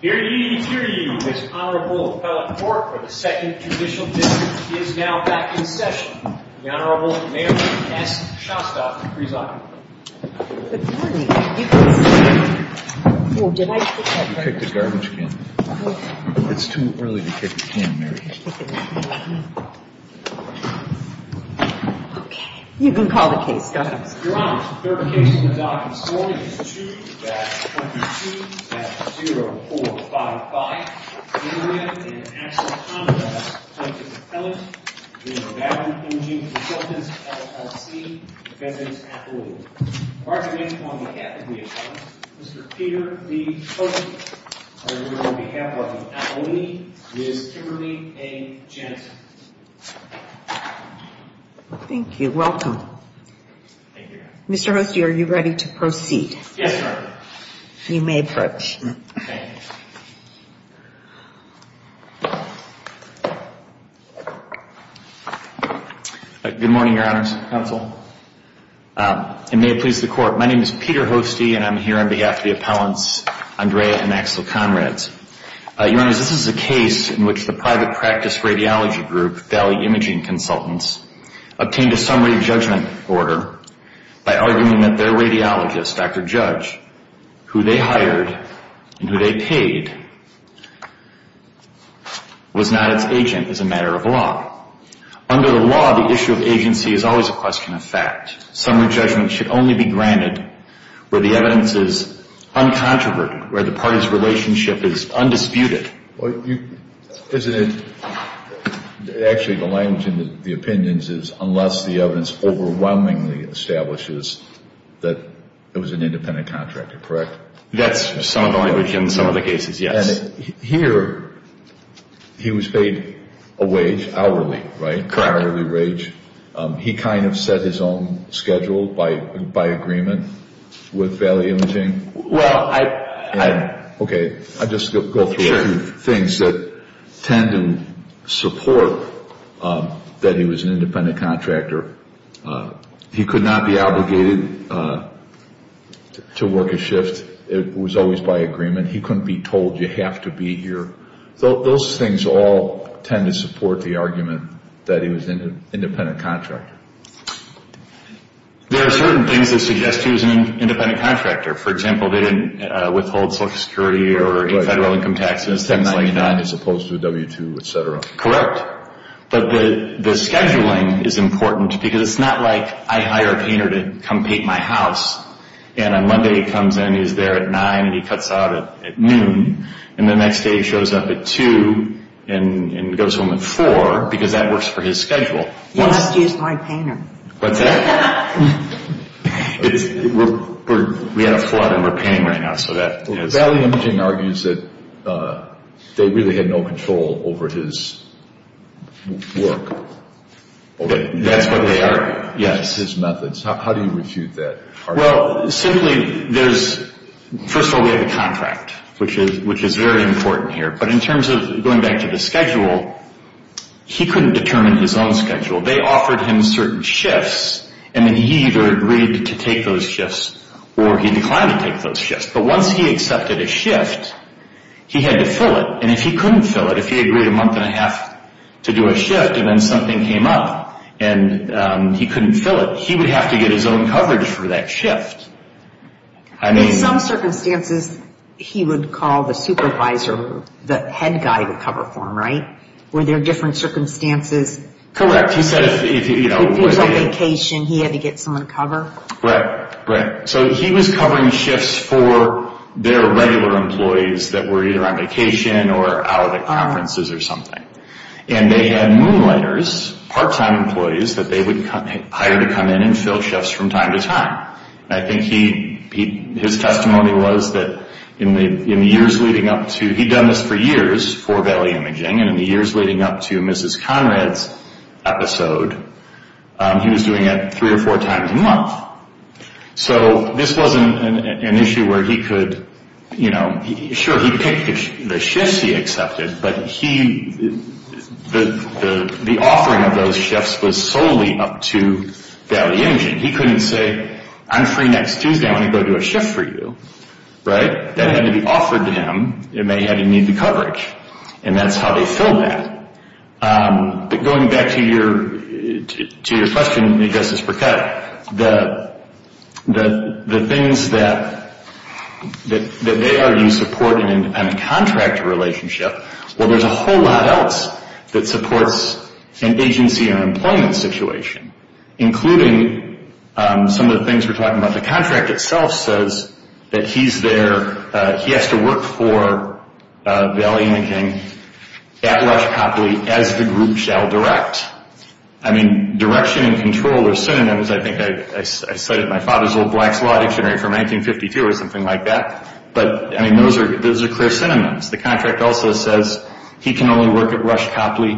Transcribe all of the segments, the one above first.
Hear ye, hear ye, this Honorable Appellate Court of the 2nd Judicial District is now back in session. The Honorable Mary S. Shostak, presiding. Good morning. You can sit down. Oh, did I sit down? You picked a garbage can. It's too early to pick a can, Mary. Okay. You can call the case. Go ahead. Your Honor, the third case in the docket this morning is 2-22-0455. Mary Ann and Axel Conrad, plaintiff's appellate, v. Valley Imaging Consultants, LLC, defendant's appellate. Argument on behalf of the appellate, Mr. Peter B. Hogan. On behalf of the appellate, Ms. Kimberly A. Jensen. Thank you. Welcome. Thank you, Your Honor. Mr. Hoste, are you ready to proceed? Yes, Your Honor. You may approach. Okay. Good morning, Your Honors. Counsel. And may it please the Court, my name is Peter Hoste, and I'm here on behalf of the appellants, Andrea and Axel Conrad. Your Honors, this is a case in which the private practice radiology group, Valley Imaging Consultants, obtained a summary judgment order by arguing that their radiologist, Dr. Judge, who they hired and who they paid was not its agent as a matter of law. Under the law, the issue of agency is always a question of fact. Summary judgment should only be granted where the evidence is uncontroverted, where the party's relationship is undisputed. Actually, the language in the opinions is unless the evidence overwhelmingly establishes that it was an independent contractor, correct? That's some of the language in some of the cases, yes. Here, he was paid a wage, hourly, right? Correct. Hourly wage. He kind of set his own schedule by agreement with Valley Imaging? Well, I... Okay, I'll just go through a few things that tend to support that he was an independent contractor. He could not be obligated to work a shift. It was always by agreement. He couldn't be told you have to be here. Those things all tend to support the argument that he was an independent contractor. There are certain things that suggest he was an independent contractor. For example, they didn't withhold Social Security or federal income taxes, things like that. As opposed to W-2, et cetera. Correct. But the scheduling is important because it's not like I hire a painter to come paint my house, and on Monday he comes in, he's there at 9, and he cuts out at noon, and the next day he shows up at 2 and goes home at 4 because that works for his schedule. You must use my painter. What's that? We had a flood and we're painting right now, so that is... Well, Valley Imaging argues that they really had no control over his work. Okay, that's what they argue. Yes. His methods. How do you refute that argument? Well, simply there's... First of all, we have a contract, which is very important here. But in terms of going back to the schedule, he couldn't determine his own schedule. They offered him certain shifts, and then he either agreed to take those shifts or he declined to take those shifts. But once he accepted a shift, he had to fill it. And if he couldn't fill it, if he agreed a month and a half to do a shift and then something came up and he couldn't fill it, he would have to get his own coverage for that shift. In some circumstances, he would call the supervisor, the head guy, to cover for him, right? Were there different circumstances? Correct. He said if he was on vacation, he had to get someone to cover? Right. So he was covering shifts for their regular employees that were either on vacation or out at conferences or something. And they had moonlighters, part-time employees, that they would hire to come in and fill shifts from time to time. I think his testimony was that in the years leading up to he'd done this for years for Valley Imaging, and in the years leading up to Mrs. Conrad's episode, he was doing it three or four times a month. So this wasn't an issue where he could, you know, sure, he picked the shifts he accepted, but the offering of those shifts was solely up to Valley Imaging. He couldn't say, I'm free next Tuesday. I want to go do a shift for you, right? That had to be offered to him, and they had to need the coverage. And that's how they filled that. But going back to your question, Justice Burkett, the things that they argue support an independent contractor relationship, well, there's a whole lot else that supports an agency or employment situation, including some of the things we're talking about. The contract itself says that he's there, he has to work for Valley Imaging at Rush Copley as the group shall direct. I mean, direction and control are synonyms. I think I cited my father's old blacks law dictionary from 1952 or something like that. But, I mean, those are clear synonyms. The contract also says he can only work at Rush Copley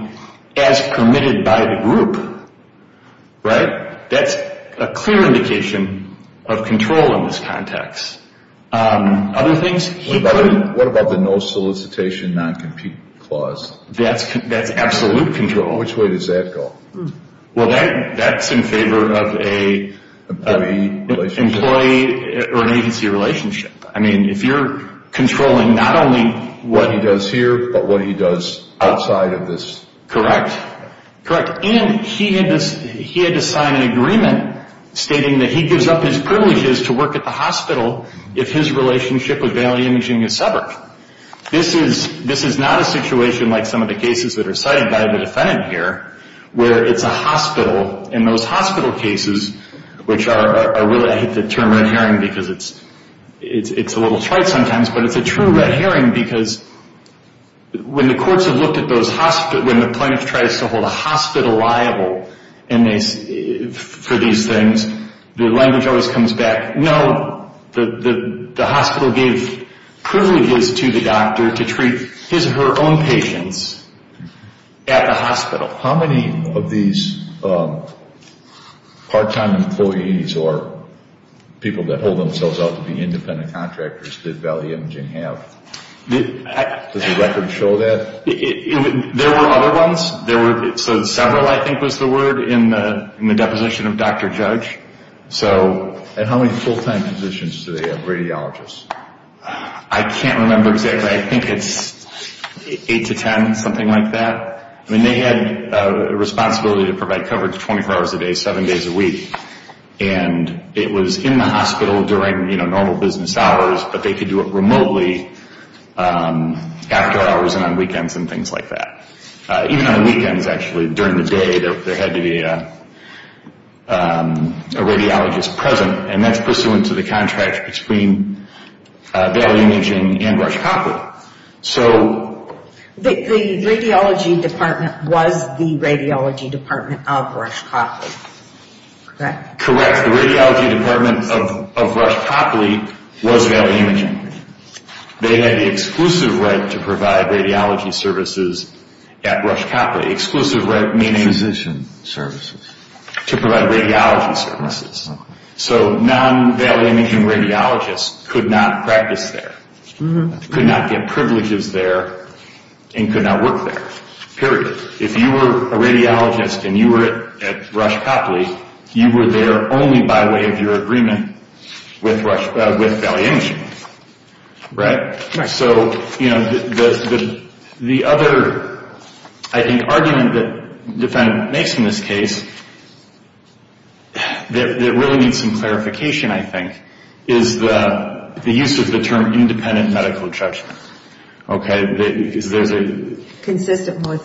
as permitted by the group, right? That's a clear indication of control in this context. What about the no solicitation, non-compete clause? That's absolute control. Which way does that go? Well, that's in favor of an agency relationship. I mean, if you're controlling not only what he does here, but what he does outside of this. Correct. And he had to sign an agreement stating that he gives up his privileges to work at the hospital if his relationship with Valley Imaging is severed. This is not a situation like some of the cases that are cited by the defendant here, where it's a hospital, and those hospital cases, which I really hate the term red herring because it's a little trite sometimes, but it's a true red herring because when the plaintiff tries to hold a hospital liable for these things, the language always comes back, no, the hospital gave privileges to the doctor to treat his or her own patients at the hospital. How many of these part-time employees or people that hold themselves out to be independent contractors did Valley Imaging have? Does the record show that? There were other ones. So several, I think, was the word in the deposition of Dr. Judge. And how many full-time positions do they have, radiologists? I can't remember exactly. I think it's eight to ten, something like that. I mean, they had a responsibility to provide coverage 24 hours a day, seven days a week, and it was in the hospital during normal business hours, but they could do it remotely after hours and on weekends and things like that. Even on weekends, actually, during the day, there had to be a radiologist present, and that's pursuant to the contract between Valley Imaging and Rush Copper. The radiology department was the radiology department of Rush Copper, correct? Correct. The radiology department of Rush Copper was Valley Imaging. They had the exclusive right to provide radiology services at Rush Copper. Exclusive right meaning? Physician services. To provide radiology services. So non-Valley Imaging radiologists could not practice there. Could not get privileges there and could not work there, period. If you were a radiologist and you were at Rush Copper, you were there only by way of your agreement with Valley Imaging, right? So, you know, the other, I think, argument that the defendant makes in this case that really needs some clarification, I think, is the use of the term independent medical judgment. Consistent with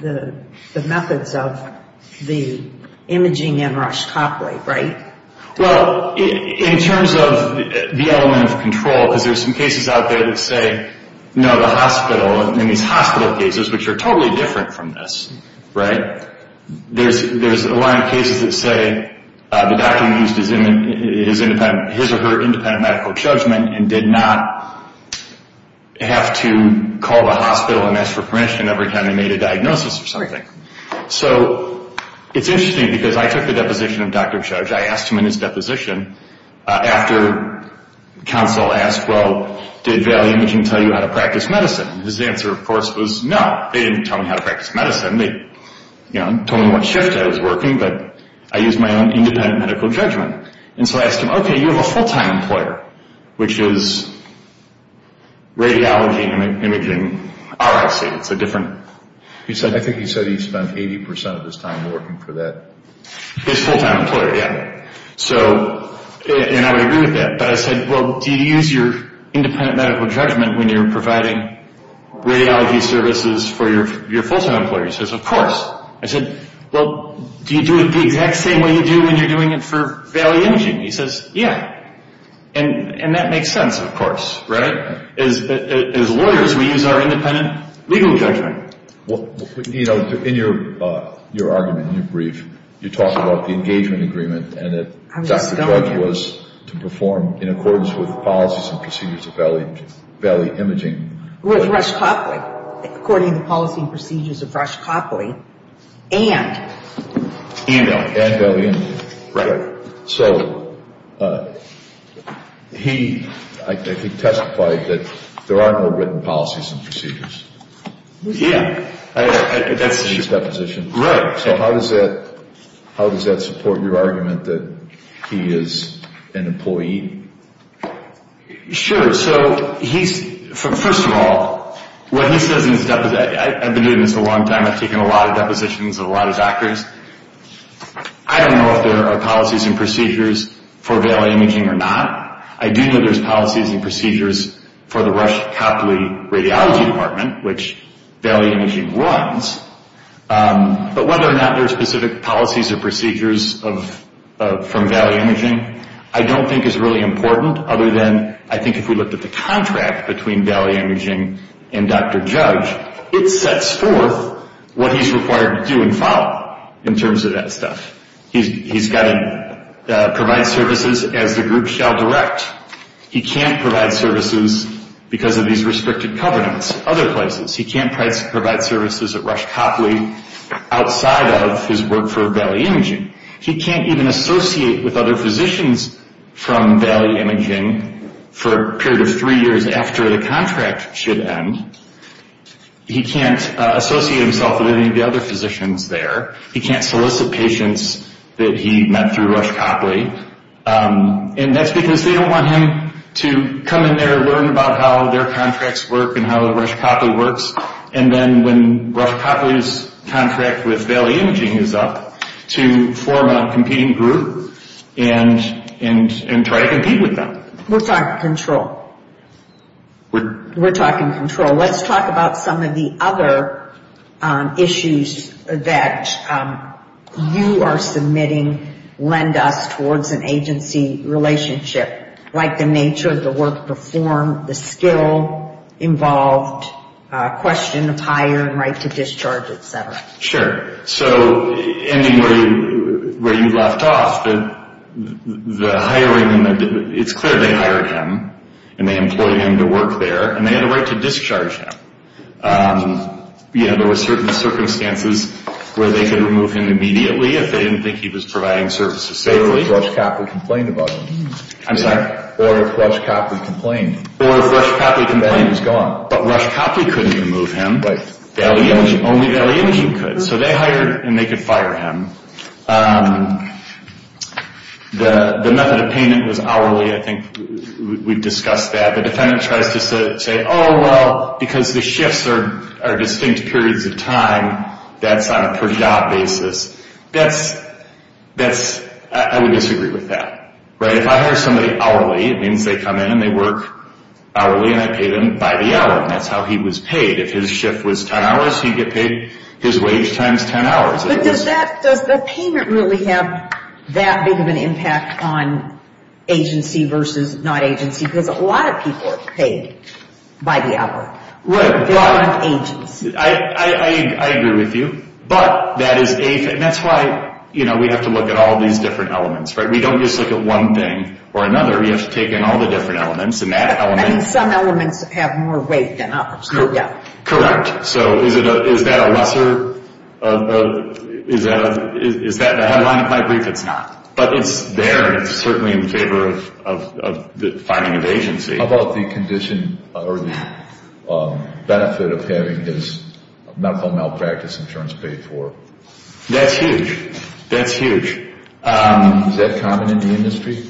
the methods of the imaging in Rush Copper, right? Well, in terms of the element of control, because there's some cases out there that say, no, the hospital, in these hospital cases, which are totally different from this, right? There's a lot of cases that say the doctor used his or her independent medical judgment and did not have to call the hospital and ask for permission every time they made a diagnosis or something. So it's interesting because I took the deposition of Dr. Judge. I asked him in his deposition after counsel asked, well, did Valley Imaging tell you how to practice medicine? His answer, of course, was no, they didn't tell me how to practice medicine. They told me what shift I was working, but I used my own independent medical judgment. And so I asked him, okay, you have a full-time employer, which is radiology and imaging, RIC. It's a different... I think he said he spent 80% of his time working for that. His full-time employer, yeah. So, and I would agree with that, but I said, well, do you use your independent medical judgment when you're providing radiology services for your full-time employer? He says, of course. I said, well, do you do it the exact same way you do when you're doing it for Valley Imaging? He says, yeah. And that makes sense, of course, right? As lawyers, we use our independent legal judgment. You know, in your argument, in your brief, you talk about the engagement agreement and that Dr. Judge was to perform in accordance with policies and procedures of Valley Imaging. With Rush Copley, according to policies and procedures of Rush Copley and... And Valley Imaging. Right. So he testified that there are no written policies and procedures. Yeah. That's his deposition. Right. So how does that support your argument that he is an employee? Sure. So he's... First of all, what he says in his deposition... I've been doing this for a long time. I've taken a lot of depositions of a lot of doctors. I don't know if there are policies and procedures for Valley Imaging or not. I do know there's policies and procedures for the Rush Copley Radiology Department, which Valley Imaging runs. But whether or not there are specific policies or procedures from Valley Imaging, I don't think is really important, other than I think if we looked at the contract between Valley Imaging and Dr. Judge, it sets forth what he's required to do and follow in terms of that stuff. He's got to provide services as the group shall direct. He can't provide services because of these restricted covenants at other places. He can't provide services at Rush Copley outside of his work for Valley Imaging. He can't even associate with other physicians from Valley Imaging for a period of three years after the contract should end. He can't associate himself with any of the other physicians there. He can't solicit patients that he met through Rush Copley. And that's because they don't want him to come in there and learn about how their contracts work and how Rush Copley works. And then when Rush Copley's contract with Valley Imaging is up, to form a competing group and try to compete with them. We're talking control. We're talking control. Let's talk about some of the other issues that you are submitting lend us towards an agency relationship, like the nature of the work performed, the skill involved, question of hire and right to discharge, et cetera. Sure. So ending where you left off, the hiring, it's clear they hired him and they employed him to work there and they had a right to discharge him. There were certain circumstances where they could remove him immediately if they didn't think he was providing services safely. Say if Rush Copley complained about him. I'm sorry? Or if Rush Copley complained. Or if Rush Copley complained. Then he was gone. But Rush Copley couldn't remove him. Right. Only Valley Imaging could. So they hired and they could fire him. The method of payment was hourly. I think we've discussed that. The defendant tries to say, oh, well, because the shifts are distinct periods of time, that's on a per job basis. I would disagree with that. If I hire somebody hourly, it means they come in and they work hourly and I pay them by the hour. That's how he was paid. If his shift was 10 hours, he'd get paid his wage times 10 hours. But does the payment really have that big of an impact on agency versus not agency? Because a lot of people are paid by the hour. Right. They're not agents. I agree with you. But that is a thing. That's why we have to look at all these different elements. We don't just look at one thing or another. You have to take in all the different elements and that element. Some elements have more weight than others. Correct. So is that a lesser? Is that a headline? In my brief, it's not. But it's there. It's certainly in favor of the finding of agency. How about the condition or the benefit of having his medical malpractice insurance paid for? That's huge. That's huge. Is that common in the industry?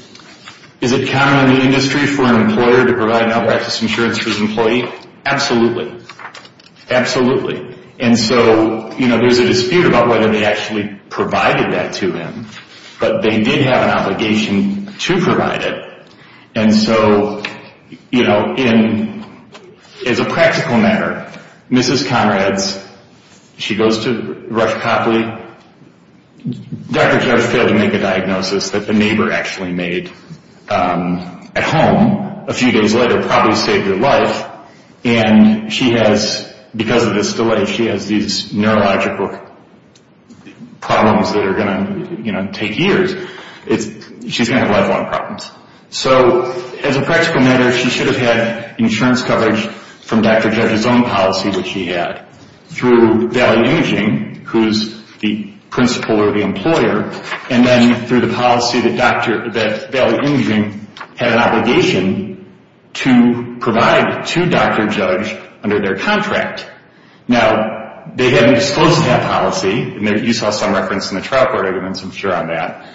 Is it common in the industry for an employer to provide malpractice insurance for his employee? Absolutely. Absolutely. And so there's a dispute about whether they actually provided that to him. But they did have an obligation to provide it. And so as a practical matter, Mrs. Conrad's, she goes to Rush Copley. Dr. Judge failed to make a diagnosis that the neighbor actually made at home. A few days later, probably saved her life. And she has, because of this delay, she has these neurological problems that are going to take years. She's going to have lifelong problems. So as a practical matter, she should have had insurance coverage from Dr. Judge's own policy that she had through Valley Imaging, who's the principal or the employer, and then through the policy that Valley Imaging had an obligation to provide to Dr. Judge under their contract. Now, they hadn't disclosed that policy. You saw some reference in the trial court evidence, I'm sure, on that.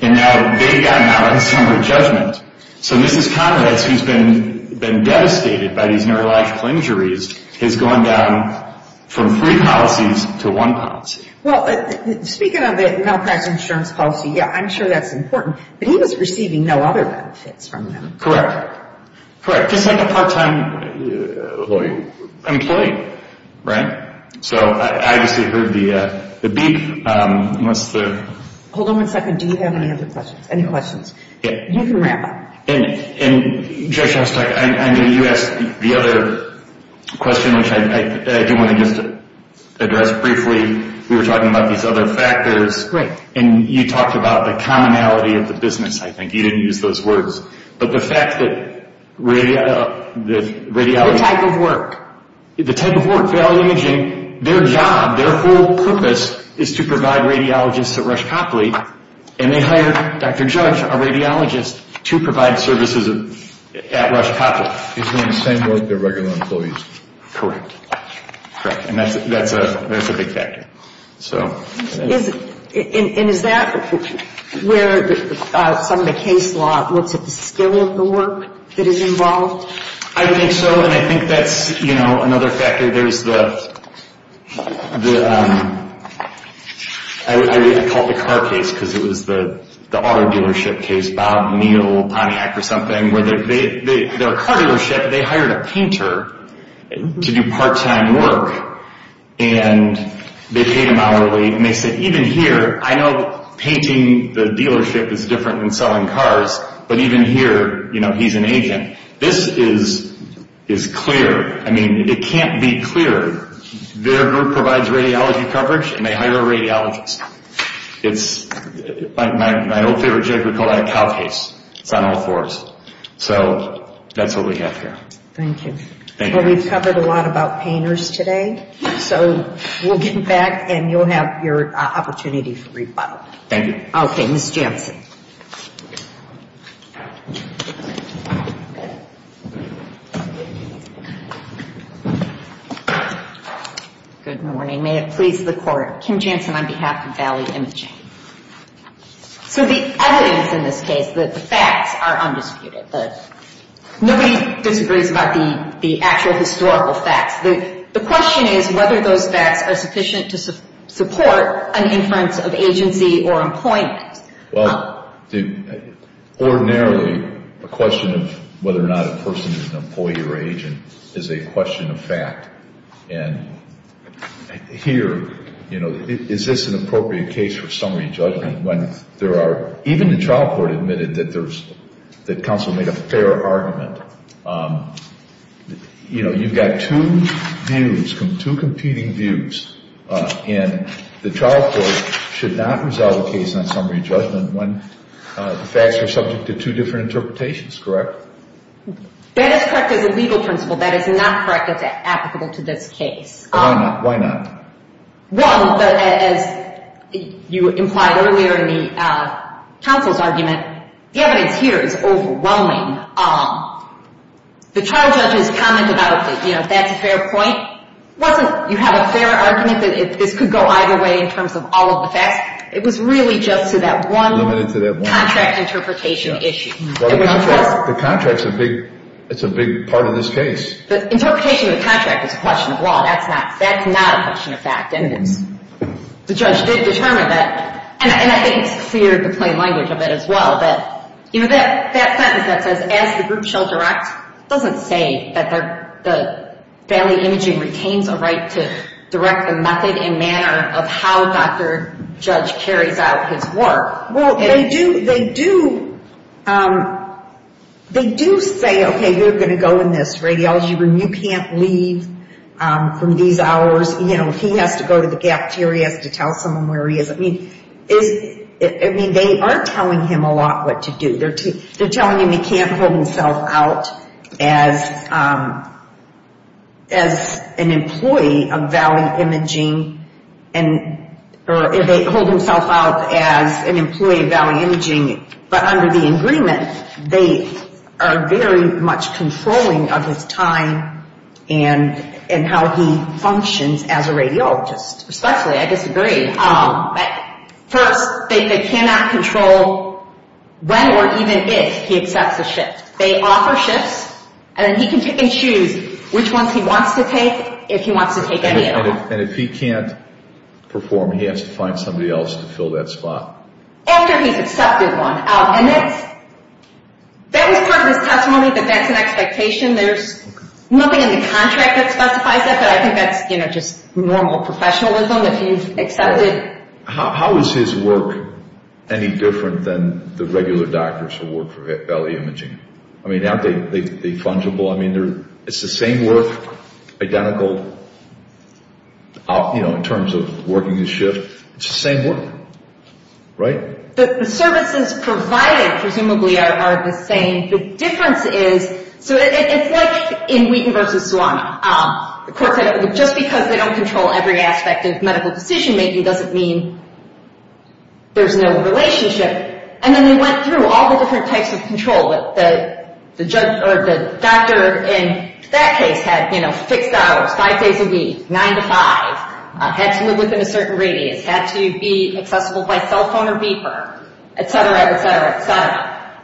And now they've gotten out on summary judgment. So Mrs. Conrad's, who's been devastated by these neurological injuries, has gone down from three policies to one policy. Well, speaking of the malpractice insurance policy, yeah, I'm sure that's important. But he was receiving no other benefits from them. Correct. Correct. Just like a part-time employee, right? So I obviously heard the beep. Hold on one second. Do you have any other questions? Any questions? You can wrap up. And, Judge, you asked the other question, which I do want to just address briefly. We were talking about these other factors. Right. And you talked about the commonality of the business, I think. You didn't use those words. But the fact that radiology— The type of work. The type of work. Valley Imaging, their job, their full purpose is to provide radiologists at Rush Copley. And they hire Dr. Judge, a radiologist, to provide services at Rush Copley. His name is Samuel. They're regular employees. Correct. Correct. And that's a big factor. And is that where some of the case law looks at the skill of the work that is involved? I think so. And I think that's another factor. There's the—I call it the car case because it was the auto dealership case, Bob, Neal, Pontiac or something, where their car dealership, they hired a painter to do part-time work. And they paid him hourly. And they said, even here, I know painting the dealership is different than selling cars, but even here, you know, he's an agent. This is clear. I mean, it can't be clearer. Their group provides radiology coverage, and they hire a radiologist. It's—my old favorite joke, we call that a cow case. It's on all fours. So that's what we have here. Thank you. Thank you. Well, we've covered a lot about painters today. So we'll get back, and you'll have your opportunity for rebuttal. Thank you. Okay. Ms. Jansen. Good morning. May it please the Court. Kim Jansen on behalf of Valley Imaging. So the evidence in this case, the facts are undisputed. Nobody disagrees about the actual historical facts. The question is whether those facts are sufficient to support an inference of agency or employment. Well, ordinarily, the question of whether or not a person is an employee or agent is a question of fact. And here, you know, is this an appropriate case for summary judgment when there are—even the trial court admitted that there's— that counsel made a fair argument. You know, you've got two views, two competing views, and the trial court should not resolve a case on summary judgment when the facts are subject to two different interpretations. Correct? That is correct as a legal principle. That is not correct as applicable to this case. Why not? Well, as you implied earlier in the counsel's argument, the evidence here is overwhelming. The trial judge's comment about, you know, that's a fair point, wasn't—you have a fair argument that this could go either way in terms of all of the facts. It was really just to that one contract interpretation issue. The contract's a big—it's a big part of this case. The interpretation of the contract is a question of law. That's not—that's not a question of fact. And it's—the judge did determine that. And I think it's clear, the plain language of it as well, that, you know, that sentence that says, as the group shall direct doesn't say that the family imaging retains a right to direct the method and manner of how Dr. Judge carries out his work. Well, they do—they do—they do say, okay, you're going to go in this radiology room. You can't leave from these hours. You know, he has to go to the cafeteria. He has to tell someone where he is. I mean, is—I mean, they are telling him a lot what to do. They're telling him he can't hold himself out as an employee of Valley Imaging and—or hold himself out as an employee of Valley Imaging. But under the agreement, they are very much controlling of his time and how he functions as a radiologist, especially. I disagree. First, they cannot control when or even if he accepts a shift. They offer shifts, and then he can pick and choose which ones he wants to take, if he wants to take any of them. And if he can't perform, he has to find somebody else to fill that spot? After he's accepted one. And that's—that was part of his testimony, that that's an expectation. There's nothing in the contract that specifies that, but I think that's, you know, just normal professionalism. How is his work any different than the regular doctors who work for Valley Imaging? I mean, aren't they fungible? I mean, it's the same work, identical, you know, in terms of working his shift. It's the same work, right? The services provided, presumably, are the same. The difference is—so it's like in Wheaton v. Suami. The court said, just because they don't control every aspect of medical decision-making doesn't mean there's no relationship. And then they went through all the different types of control. The doctor in that case had, you know, fixed hours, five days a week, nine to five. Had to live within a certain radius. Had to be accessible by cell phone or beeper, etc., etc., etc.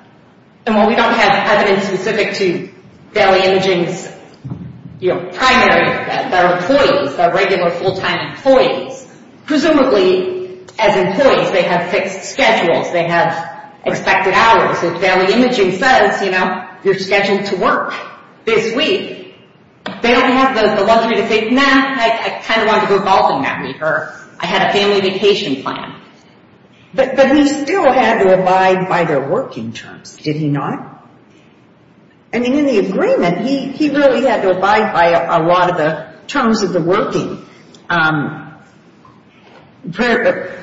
And while we don't have evidence specific to Valley Imaging's, you know, primary, their employees, their regular full-time employees, presumably, as employees, they have fixed schedules. They have expected hours. If Valley Imaging says, you know, you're scheduled to work this week, they don't have the luxury to say, nah, I kind of wanted to go golfing that week, or I had a family vacation planned. But he still had to abide by their working terms, did he not? I mean, in the agreement, he really had to abide by a lot of the terms of the working.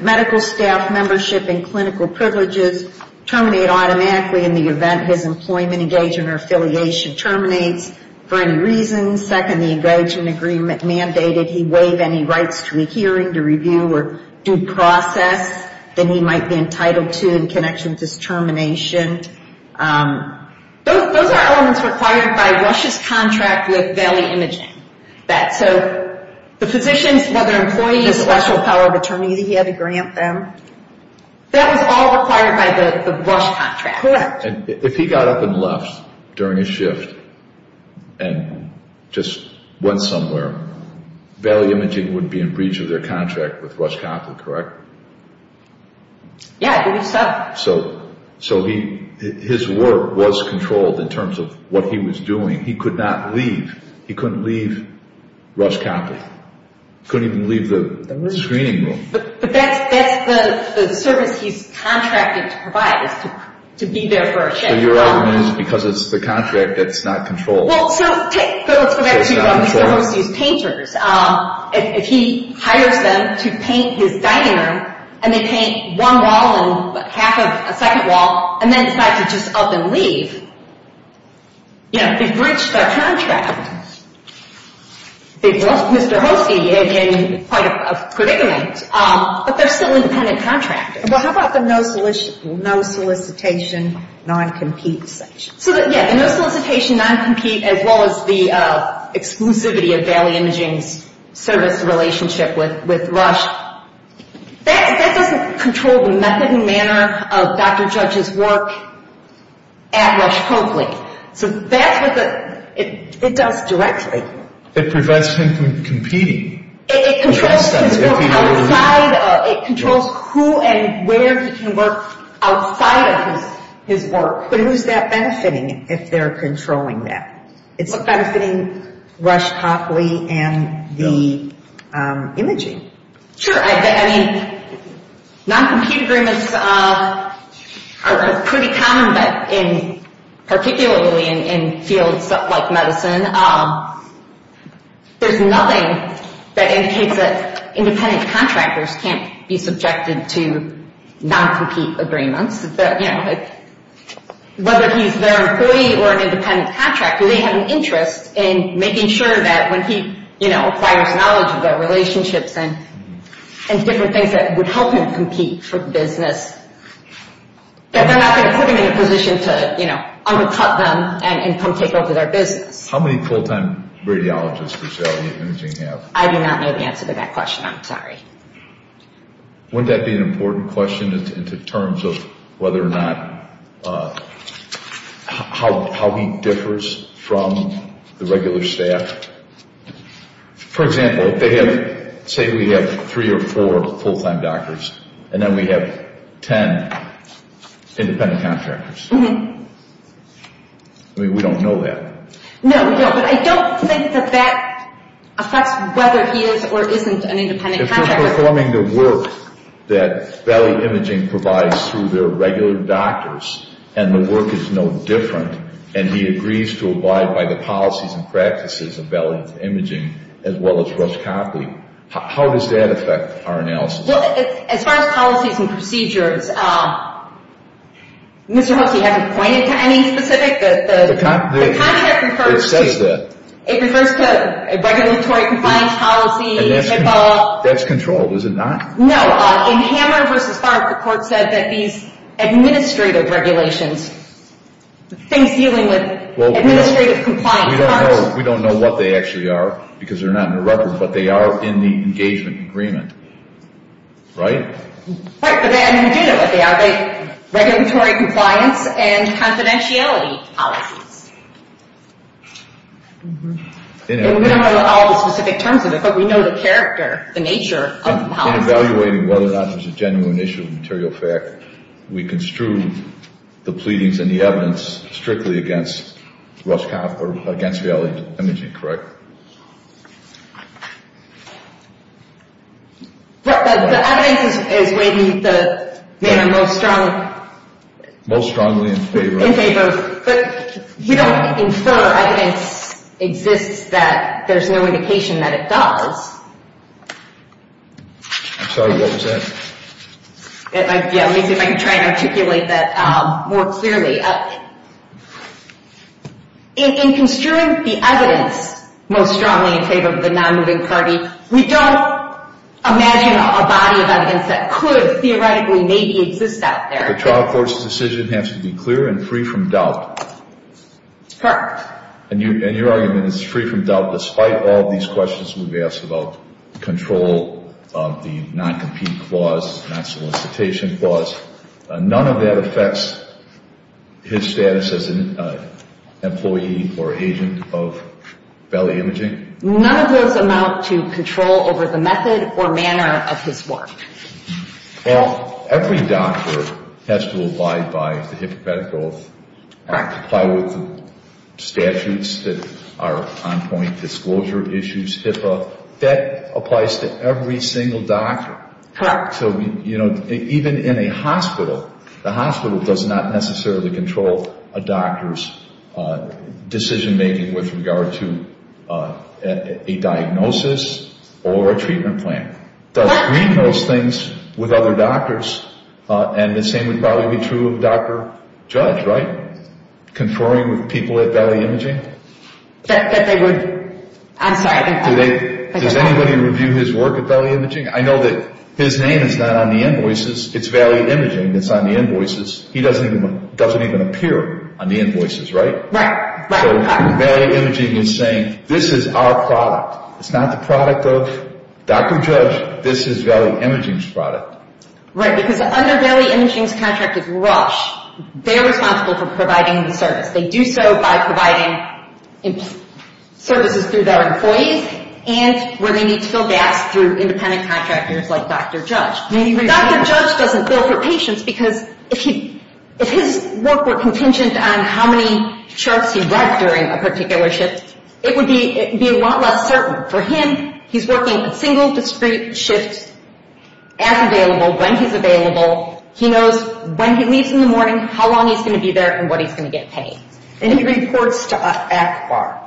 Medical staff membership and clinical privileges terminate automatically in the event his employment, engagement, or affiliation terminates for any reason. Second, the engagement agreement mandated he waive any rights to a hearing, to review, or due process that he might be entitled to in connection with his termination. Those are elements required by Rush's contract with Valley Imaging. That, so, the physicians, whether employees, the special power of attorney that he had to grant them, that was all required by the Rush contract. Correct. And if he got up and left during his shift and just went somewhere, Valley Imaging would be in breach of their contract with Rush Copley, correct? Yeah, I believe so. So, his work was controlled in terms of what he was doing. He could not leave. He couldn't leave Rush Copley. He couldn't even leave the screening room. But that's the service he's contracted to provide, is to be there for a shift. So, your argument is because it's the contract, it's not controlled. Well, so, let's go back to one of Mr. Hosey's painters. If he hires them to paint his dining room, and they paint one wall and half of a second wall, and then decide to just up and leave, you know, they've breached their contract. They've lost Mr. Hosey in quite a predicament. But they're still independent contractors. Well, how about the no solicitation, non-compete section? So, yeah, the no solicitation, non-compete, as well as the exclusivity of Valley Imaging's service relationship with Rush, that doesn't control the method and manner of Dr. Judge's work at Rush Copley. So that's what it does directly. It prevents him from competing. It controls his work outside. It controls who and where he can work outside of his work. But who's that benefiting if they're controlling that? It's benefiting Rush Copley and the imaging. Sure, I mean, non-compete agreements are pretty common, but particularly in fields like medicine, there's nothing that indicates that independent contractors can't be subjected to non-compete agreements. Whether he's their employee or an independent contractor, they have an interest in making sure that when he acquires knowledge of their relationships and different things that would help him compete for business, that they're not going to put him in a position to undercut them and come take over their business. How many full-time radiologists does Valley Imaging have? I do not know the answer to that question. I'm sorry. Wouldn't that be an important question in terms of whether or not, how he differs from the regular staff? For example, say we have three or four full-time doctors, and then we have ten independent contractors. I mean, we don't know that. No, but I don't think that that affects whether he is or isn't an independent contractor. If he's performing the work that Valley Imaging provides through their regular doctors, and the work is no different, and he agrees to abide by the policies and practices of Valley Imaging, as well as Rush Copley, how does that affect our analysis? Well, as far as policies and procedures, Mr. Hooks, you haven't pointed to any specific. It says that. It refers to a regulatory compliance policy. That's controlled, is it not? No. In Hammer v. Tharpe, the court said that these administrative regulations, things dealing with administrative compliance. We don't know what they actually are because they're not in the record, but they are in the engagement agreement, right? Right, but we do know what they are. They're regulatory compliance and confidentiality policies. We don't know all the specific terms of it, but we know the character, the nature of the policy. In evaluating whether or not there's a genuine issue of material fact, we construe the pleadings and the evidence strictly against Rush Copley, or against Valley Imaging, correct? The evidence is weighed in most strongly in favor, but you don't infer evidence exists that there's no indication that it does. I'm sorry, what was that? Yeah, let me see if I can try and articulate that more clearly. In construing the evidence most strongly in favor of the non-moving party, we don't imagine a body of evidence that could theoretically maybe exist out there. The trial court's decision has to be clear and free from doubt. Correct. And your argument is free from doubt, despite all these questions we've asked about control of the non-compete clause, non-solicitation clause. None of that affects his status as an employee or agent of Valley Imaging? None of those amount to control over the method or manner of his work. Well, every doctor has to abide by the Hippocratic Oath, apply with the statutes that are on point, disclosure issues, HIPAA. That applies to every single doctor. Correct. So, you know, even in a hospital, the hospital does not necessarily control a doctor's decision-making with regard to a diagnosis or a treatment plan. Correct. And the same would probably be true of Dr. Judge, right? Conferring with people at Valley Imaging? That they would. I'm sorry. Does anybody review his work at Valley Imaging? I know that his name is not on the invoices. It's Valley Imaging that's on the invoices. He doesn't even appear on the invoices, right? Right. So Valley Imaging is saying, this is our product. It's not the product of Dr. Judge. This is Valley Imaging's product. Right, because under Valley Imaging's contract with Rush, they're responsible for providing the service. They do so by providing services through their employees and where they need to fill gaps through independent contractors like Dr. Judge. Dr. Judge doesn't bill for patients because if his work were contingent on how many charts he wrote during a particular shift, it would be a lot less certain. For him, he's working a single discrete shift as available, when he's available. He knows when he leaves in the morning, how long he's going to be there, and what he's going to get paid. And he reports to ACBAR.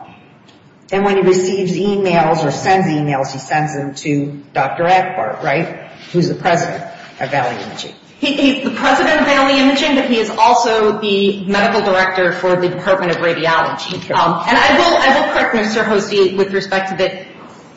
And when he receives emails or sends emails, he sends them to Dr. ACBAR, right? Who's the president of Valley Imaging. The president of Valley Imaging, but he is also the medical director for the Department of Radiology. And I will correct Mr. Hosea with respect to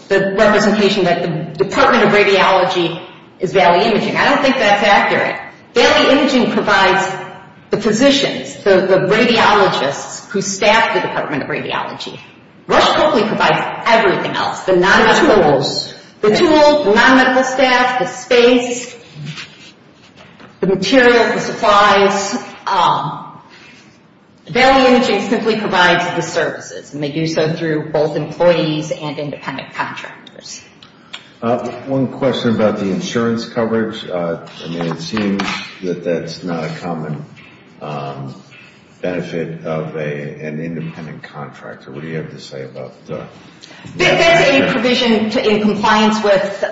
the representation that the Department of Radiology is Valley Imaging. I don't think that's accurate. Valley Imaging provides the physicians, the radiologists who staff the Department of Radiology. Rush hopefully provides everything else. The tools. The tools, the non-medical staff, the space, the material, the supplies. Valley Imaging simply provides the services. And they do so through both employees and independent contractors. One question about the insurance coverage. I mean, it seems that that's not a common benefit of an independent contractor. What do you have to say about that? That's a provision in compliance with the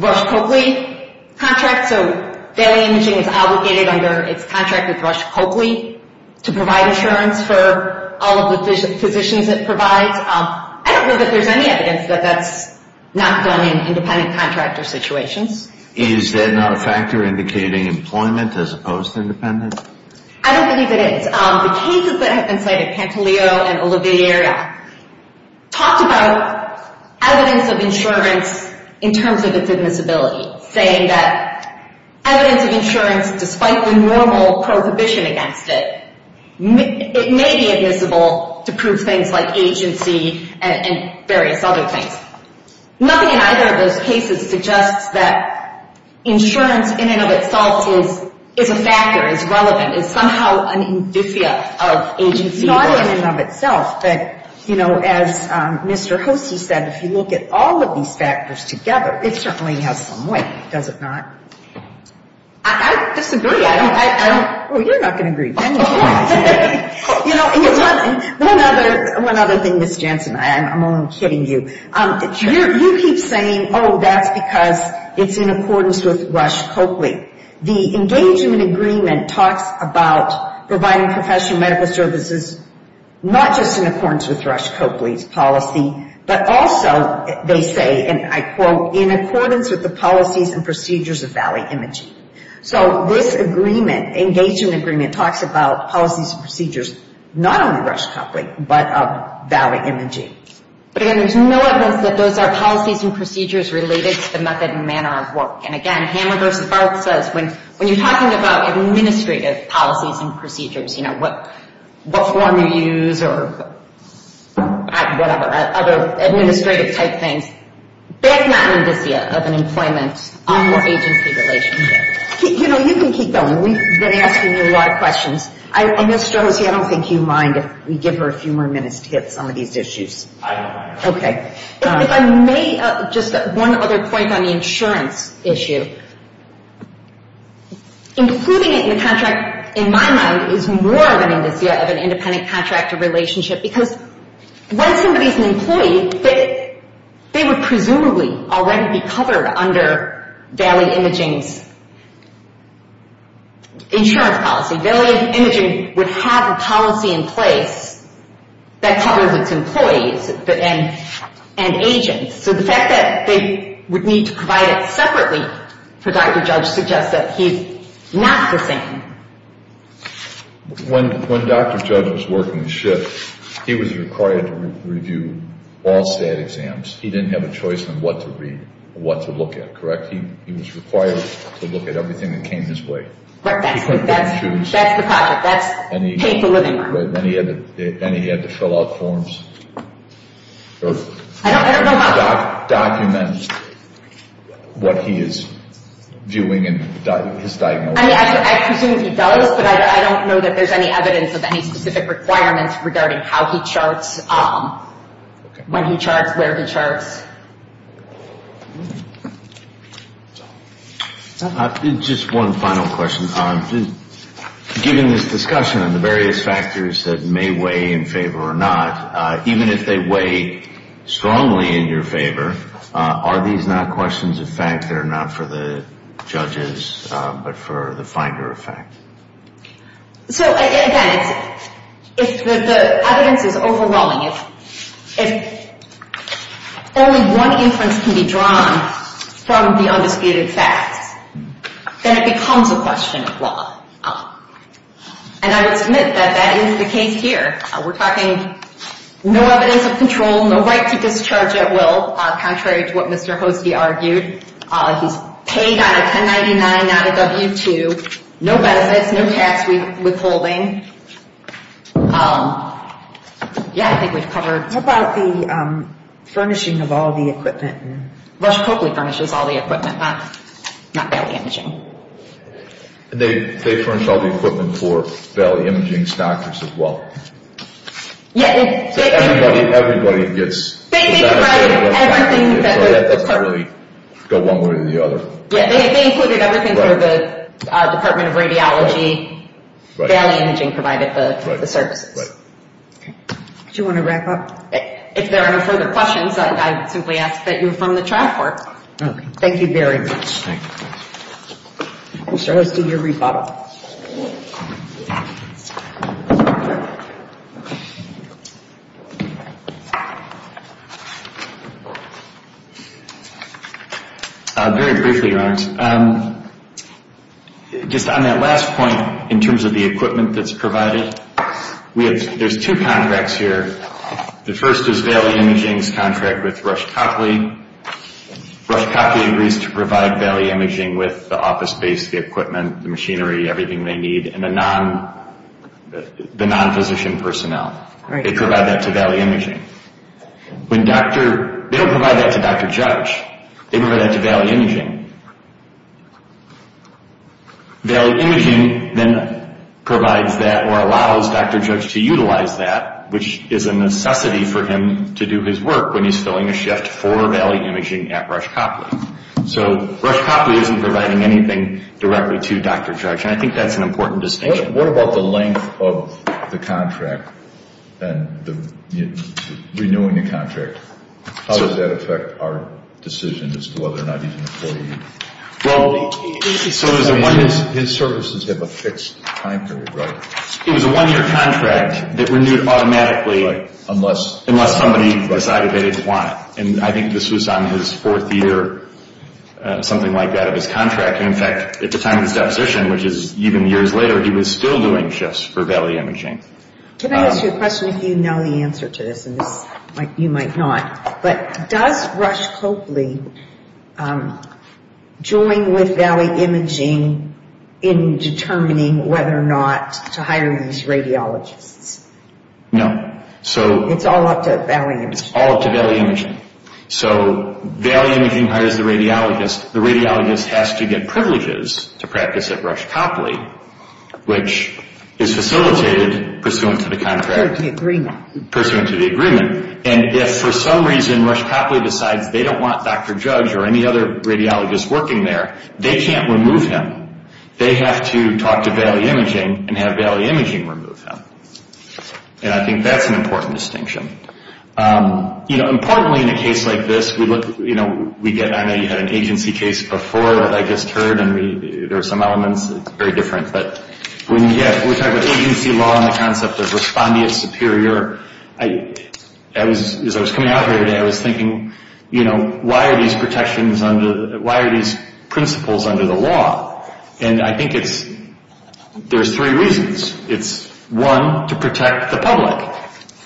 Rush-Copley contract. So Valley Imaging is obligated under its contract with Rush-Copley to provide insurance for all of the physicians it provides. I don't know that there's any evidence that that's not done in independent contractor situations. Is that not a factor indicating employment as opposed to independent? I don't believe it is. The cases that have been cited, Pantaleo and Oliviera, talked about evidence of insurance in terms of its admissibility. Saying that evidence of insurance, despite the normal prohibition against it, it may be admissible to prove things like agency and various other things. Nothing in either of those cases suggests that insurance in and of itself is a factor, is relevant, is somehow an indicia of agency. It's not in and of itself. But, you know, as Mr. Hosie said, if you look at all of these factors together, it certainly has some weight, does it not? I disagree. I don't, I don't. Well, you're not going to agree. One other thing, Ms. Jansen, I'm only kidding you. You keep saying, oh, that's because it's in accordance with Rush-Copley. The engagement agreement talks about providing professional medical services not just in accordance with Rush-Copley's policy, but also, they say, and I quote, in accordance with the policies and procedures of Valley Imaging. So this agreement, engagement agreement, talks about policies and procedures, not only Rush-Copley, but of Valley Imaging. But again, there's no evidence that those are policies and procedures related to the method and manner of work. And again, Hammer v. Barth says, when you're talking about administrative policies and procedures, you know, what form you use or whatever, other administrative type things, that's not an indicia of an employment or agency relationship. You know, you can keep going. We've been asking you a lot of questions. Ms. Josie, I don't think you mind if we give her a few more minutes to get some of these issues. I don't mind. Okay. If I may, just one other point on the insurance issue. Including it in the contract, in my mind, is more of an indicia of an independent contractor relationship. Because when somebody's an employee, they would presumably already be covered under Valley Imaging's insurance policy. Valley Imaging would have a policy in place that covers its employees and agents. So the fact that they would need to provide it separately for Dr. Judge suggests that he's not the same. When Dr. Judge was working the shift, he was required to review all stat exams. He didn't have a choice on what to read or what to look at, correct? He was required to look at everything that came his way. That's the project. That's painful living. And he had to fill out forms. I don't know how. Document what he is doing and his diagnosis. I presume he does, but I don't know that there's any evidence of any specific requirements regarding how he charts, when he charts, where he charts. Just one final question. Given this discussion on the various factors that may weigh in favor or not, even if they weigh strongly in your favor, are these not questions of fact that are not for the judges but for the finder of fact? So, again, if the evidence is overwhelming, if only one inference can be drawn from the undisputed facts, then it becomes a question of law. And I would submit that that is the case here. We're talking no evidence of control, no right to discharge at will, contrary to what Mr. Hoste argued. He's paid out of 1099, not a W-2. No benefits, no tax withholding. Yeah, I think we've covered. What about the furnishing of all the equipment? Rush Coakley furnishes all the equipment, not Bell Imaging. They furnish all the equipment for Bell Imaging stockers as well. Yeah. So everybody gets. They provide everything. So it doesn't really go one way or the other. Yeah, they included everything for the Department of Radiology. Bell Imaging provided the services. Do you want to wrap up? If there are no further questions, I would simply ask that you affirm the track work. Okay. Thank you very much. Thank you. Mr. Hoste, your rebuttal. Very briefly, Your Honors. Just on that last point in terms of the equipment that's provided, there's two contracts here. The first is Bell Imaging's contract with Rush Coakley. Rush Coakley agrees to provide Bell Imaging with the office space, the equipment, the machinery, everything they need, and the non-physician personnel. They provide that to Bell Imaging. They don't provide that to Dr. Judge. They provide that to Bell Imaging. Bell Imaging then provides that or allows Dr. Judge to utilize that, which is a necessity for him to do his work when he's filling a shift for Bell Imaging at Rush Coakley. So Rush Coakley isn't providing anything directly to Dr. Judge, and I think that's an important distinction. What about the length of the contract and renewing the contract? How does that affect our decision as to whether or not he's an employee? His services have a fixed time period, right? It was a one-year contract that renewed automatically unless somebody decided they didn't want it. And I think this was on his fourth year, something like that, of his contract. In fact, at the time of his deposition, which is even years later, he was still doing shifts for Bell Imaging. Can I ask you a question if you know the answer to this? You might not. But does Rush Coakley join with Bell Imaging in determining whether or not to hire these radiologists? No. It's all up to Bell Imaging. It's all up to Bell Imaging. So Bell Imaging hires the radiologist. The radiologist has to get privileges to practice at Rush Coakley, which is facilitated pursuant to the contract. Pursuant to the agreement. Pursuant to the agreement. And if for some reason Rush Coakley decides they don't want Dr. Judge or any other radiologist working there, they can't remove him. They have to talk to Bell Imaging and have Bell Imaging remove him. And I think that's an important distinction. Importantly in a case like this, I know you had an agency case before that I just heard, and there were some elements. It's very different. But when we talk about agency law and the concept of respondeat superior, as I was coming out here today, I was thinking, why are these principles under the law? And I think there's three reasons. It's one, to protect the public.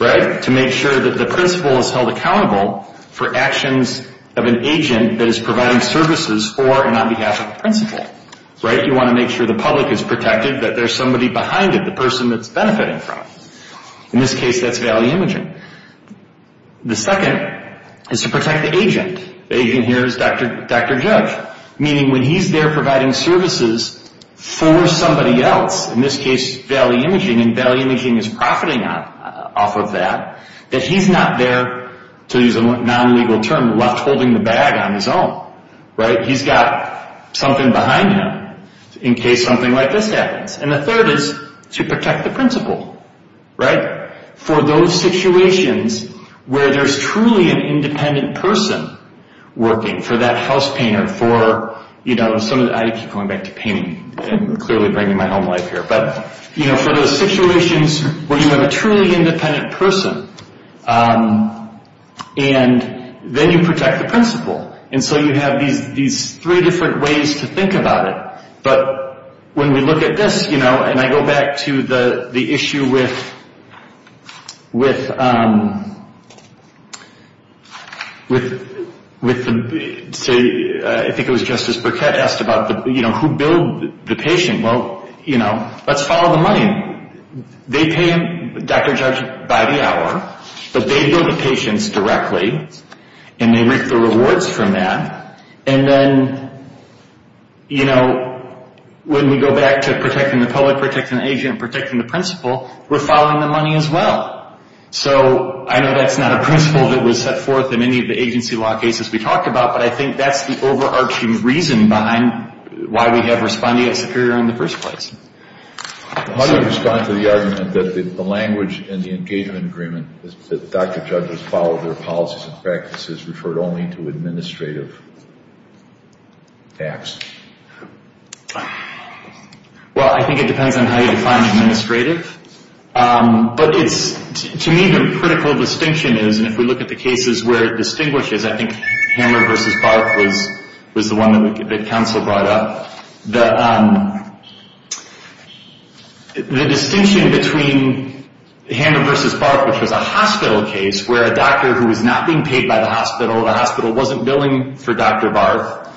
Right? To make sure that the principal is held accountable for actions of an agent that is providing services for and on behalf of the principal. Right? You want to make sure the public is protected, that there's somebody behind it, the person it's benefiting from. In this case, that's Bell Imaging. The second is to protect the agent. The agent here is Dr. Judge. Meaning when he's there providing services for somebody else, in this case Bell Imaging, and Bell Imaging is profiting off of that, that he's not there, to use a non-legal term, left holding the bag on his own. Right? He's got something behind him in case something like this happens. And the third is to protect the principal. Right? For those situations where there's truly an independent person working for that house painter, for, you know, I keep going back to painting and clearly bringing my home life here. But, you know, for those situations where you have a truly independent person, and then you protect the principal. And so you have these three different ways to think about it. But when we look at this, you know, and I go back to the issue with, say, I think it was Justice Burkett asked about who billed the patient. Well, you know, let's follow the money. They pay Dr. Judge by the hour. But they bill the patients directly. And they reap the rewards from that. And then, you know, when we go back to protecting the public, protecting the agent, protecting the principal, we're following the money as well. So I know that's not a principle that was set forth in any of the agency law cases we talked about, but I think that's the overarching reason behind why we have respondeat superior in the first place. How do you respond to the argument that the language in the engagement agreement, that Dr. Judge has followed their policies and practices, referred only to administrative acts? Well, I think it depends on how you define administrative. But it's, to me, the critical distinction is, and if we look at the cases where it distinguishes, because I think Hammer v. Barth was the one that counsel brought up, the distinction between Hammer v. Barth, which was a hospital case where a doctor who was not being paid by the hospital, the hospital wasn't billing for Dr. Barth,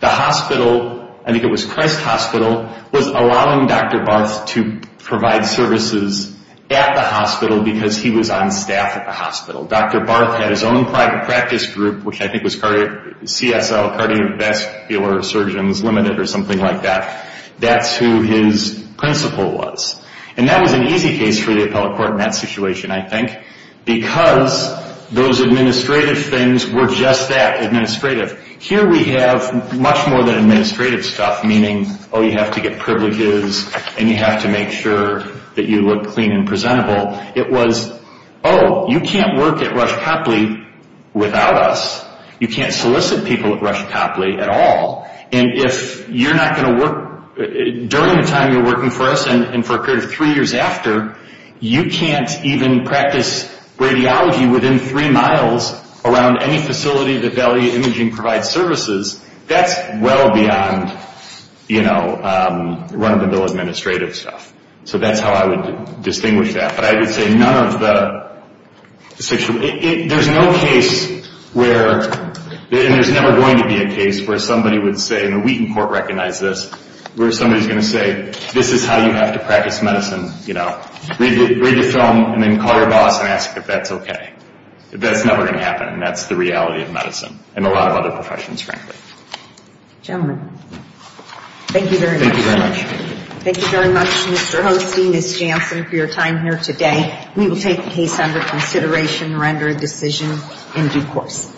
the hospital, I think it was Christ Hospital, was allowing Dr. Barth to provide services at the hospital because he was on staff at the hospital. Dr. Barth had his own private practice group, which I think was CSL, Cardiovascular Surgeons Limited, or something like that. That's who his principal was. And that was an easy case for the appellate court in that situation, I think, because those administrative things were just that, administrative. Here we have much more than administrative stuff, meaning, oh, you have to get privileges and you have to make sure that you look clean and presentable. It was, oh, you can't work at Rush Copley without us. You can't solicit people at Rush Copley at all. And if you're not going to work during the time you're working for us and for a period of three years after, you can't even practice radiology within three miles around any facility that Valiant Imaging provides services. That's well beyond, you know, run-of-the-mill administrative stuff. So that's how I would distinguish that. But I would say none of the, there's no case where, and there's never going to be a case, where somebody would say, and the Wheaton Court recognized this, where somebody's going to say, this is how you have to practice medicine, you know. Read the film and then call your boss and ask if that's okay. That's never going to happen, and that's the reality of medicine, and a lot of other professions, frankly. Gentlemen, thank you very much. Thank you very much. Thank you very much, Mr. Holstein, Ms. Jansen, for your time here today. We will take the case under consideration and render a decision in due course.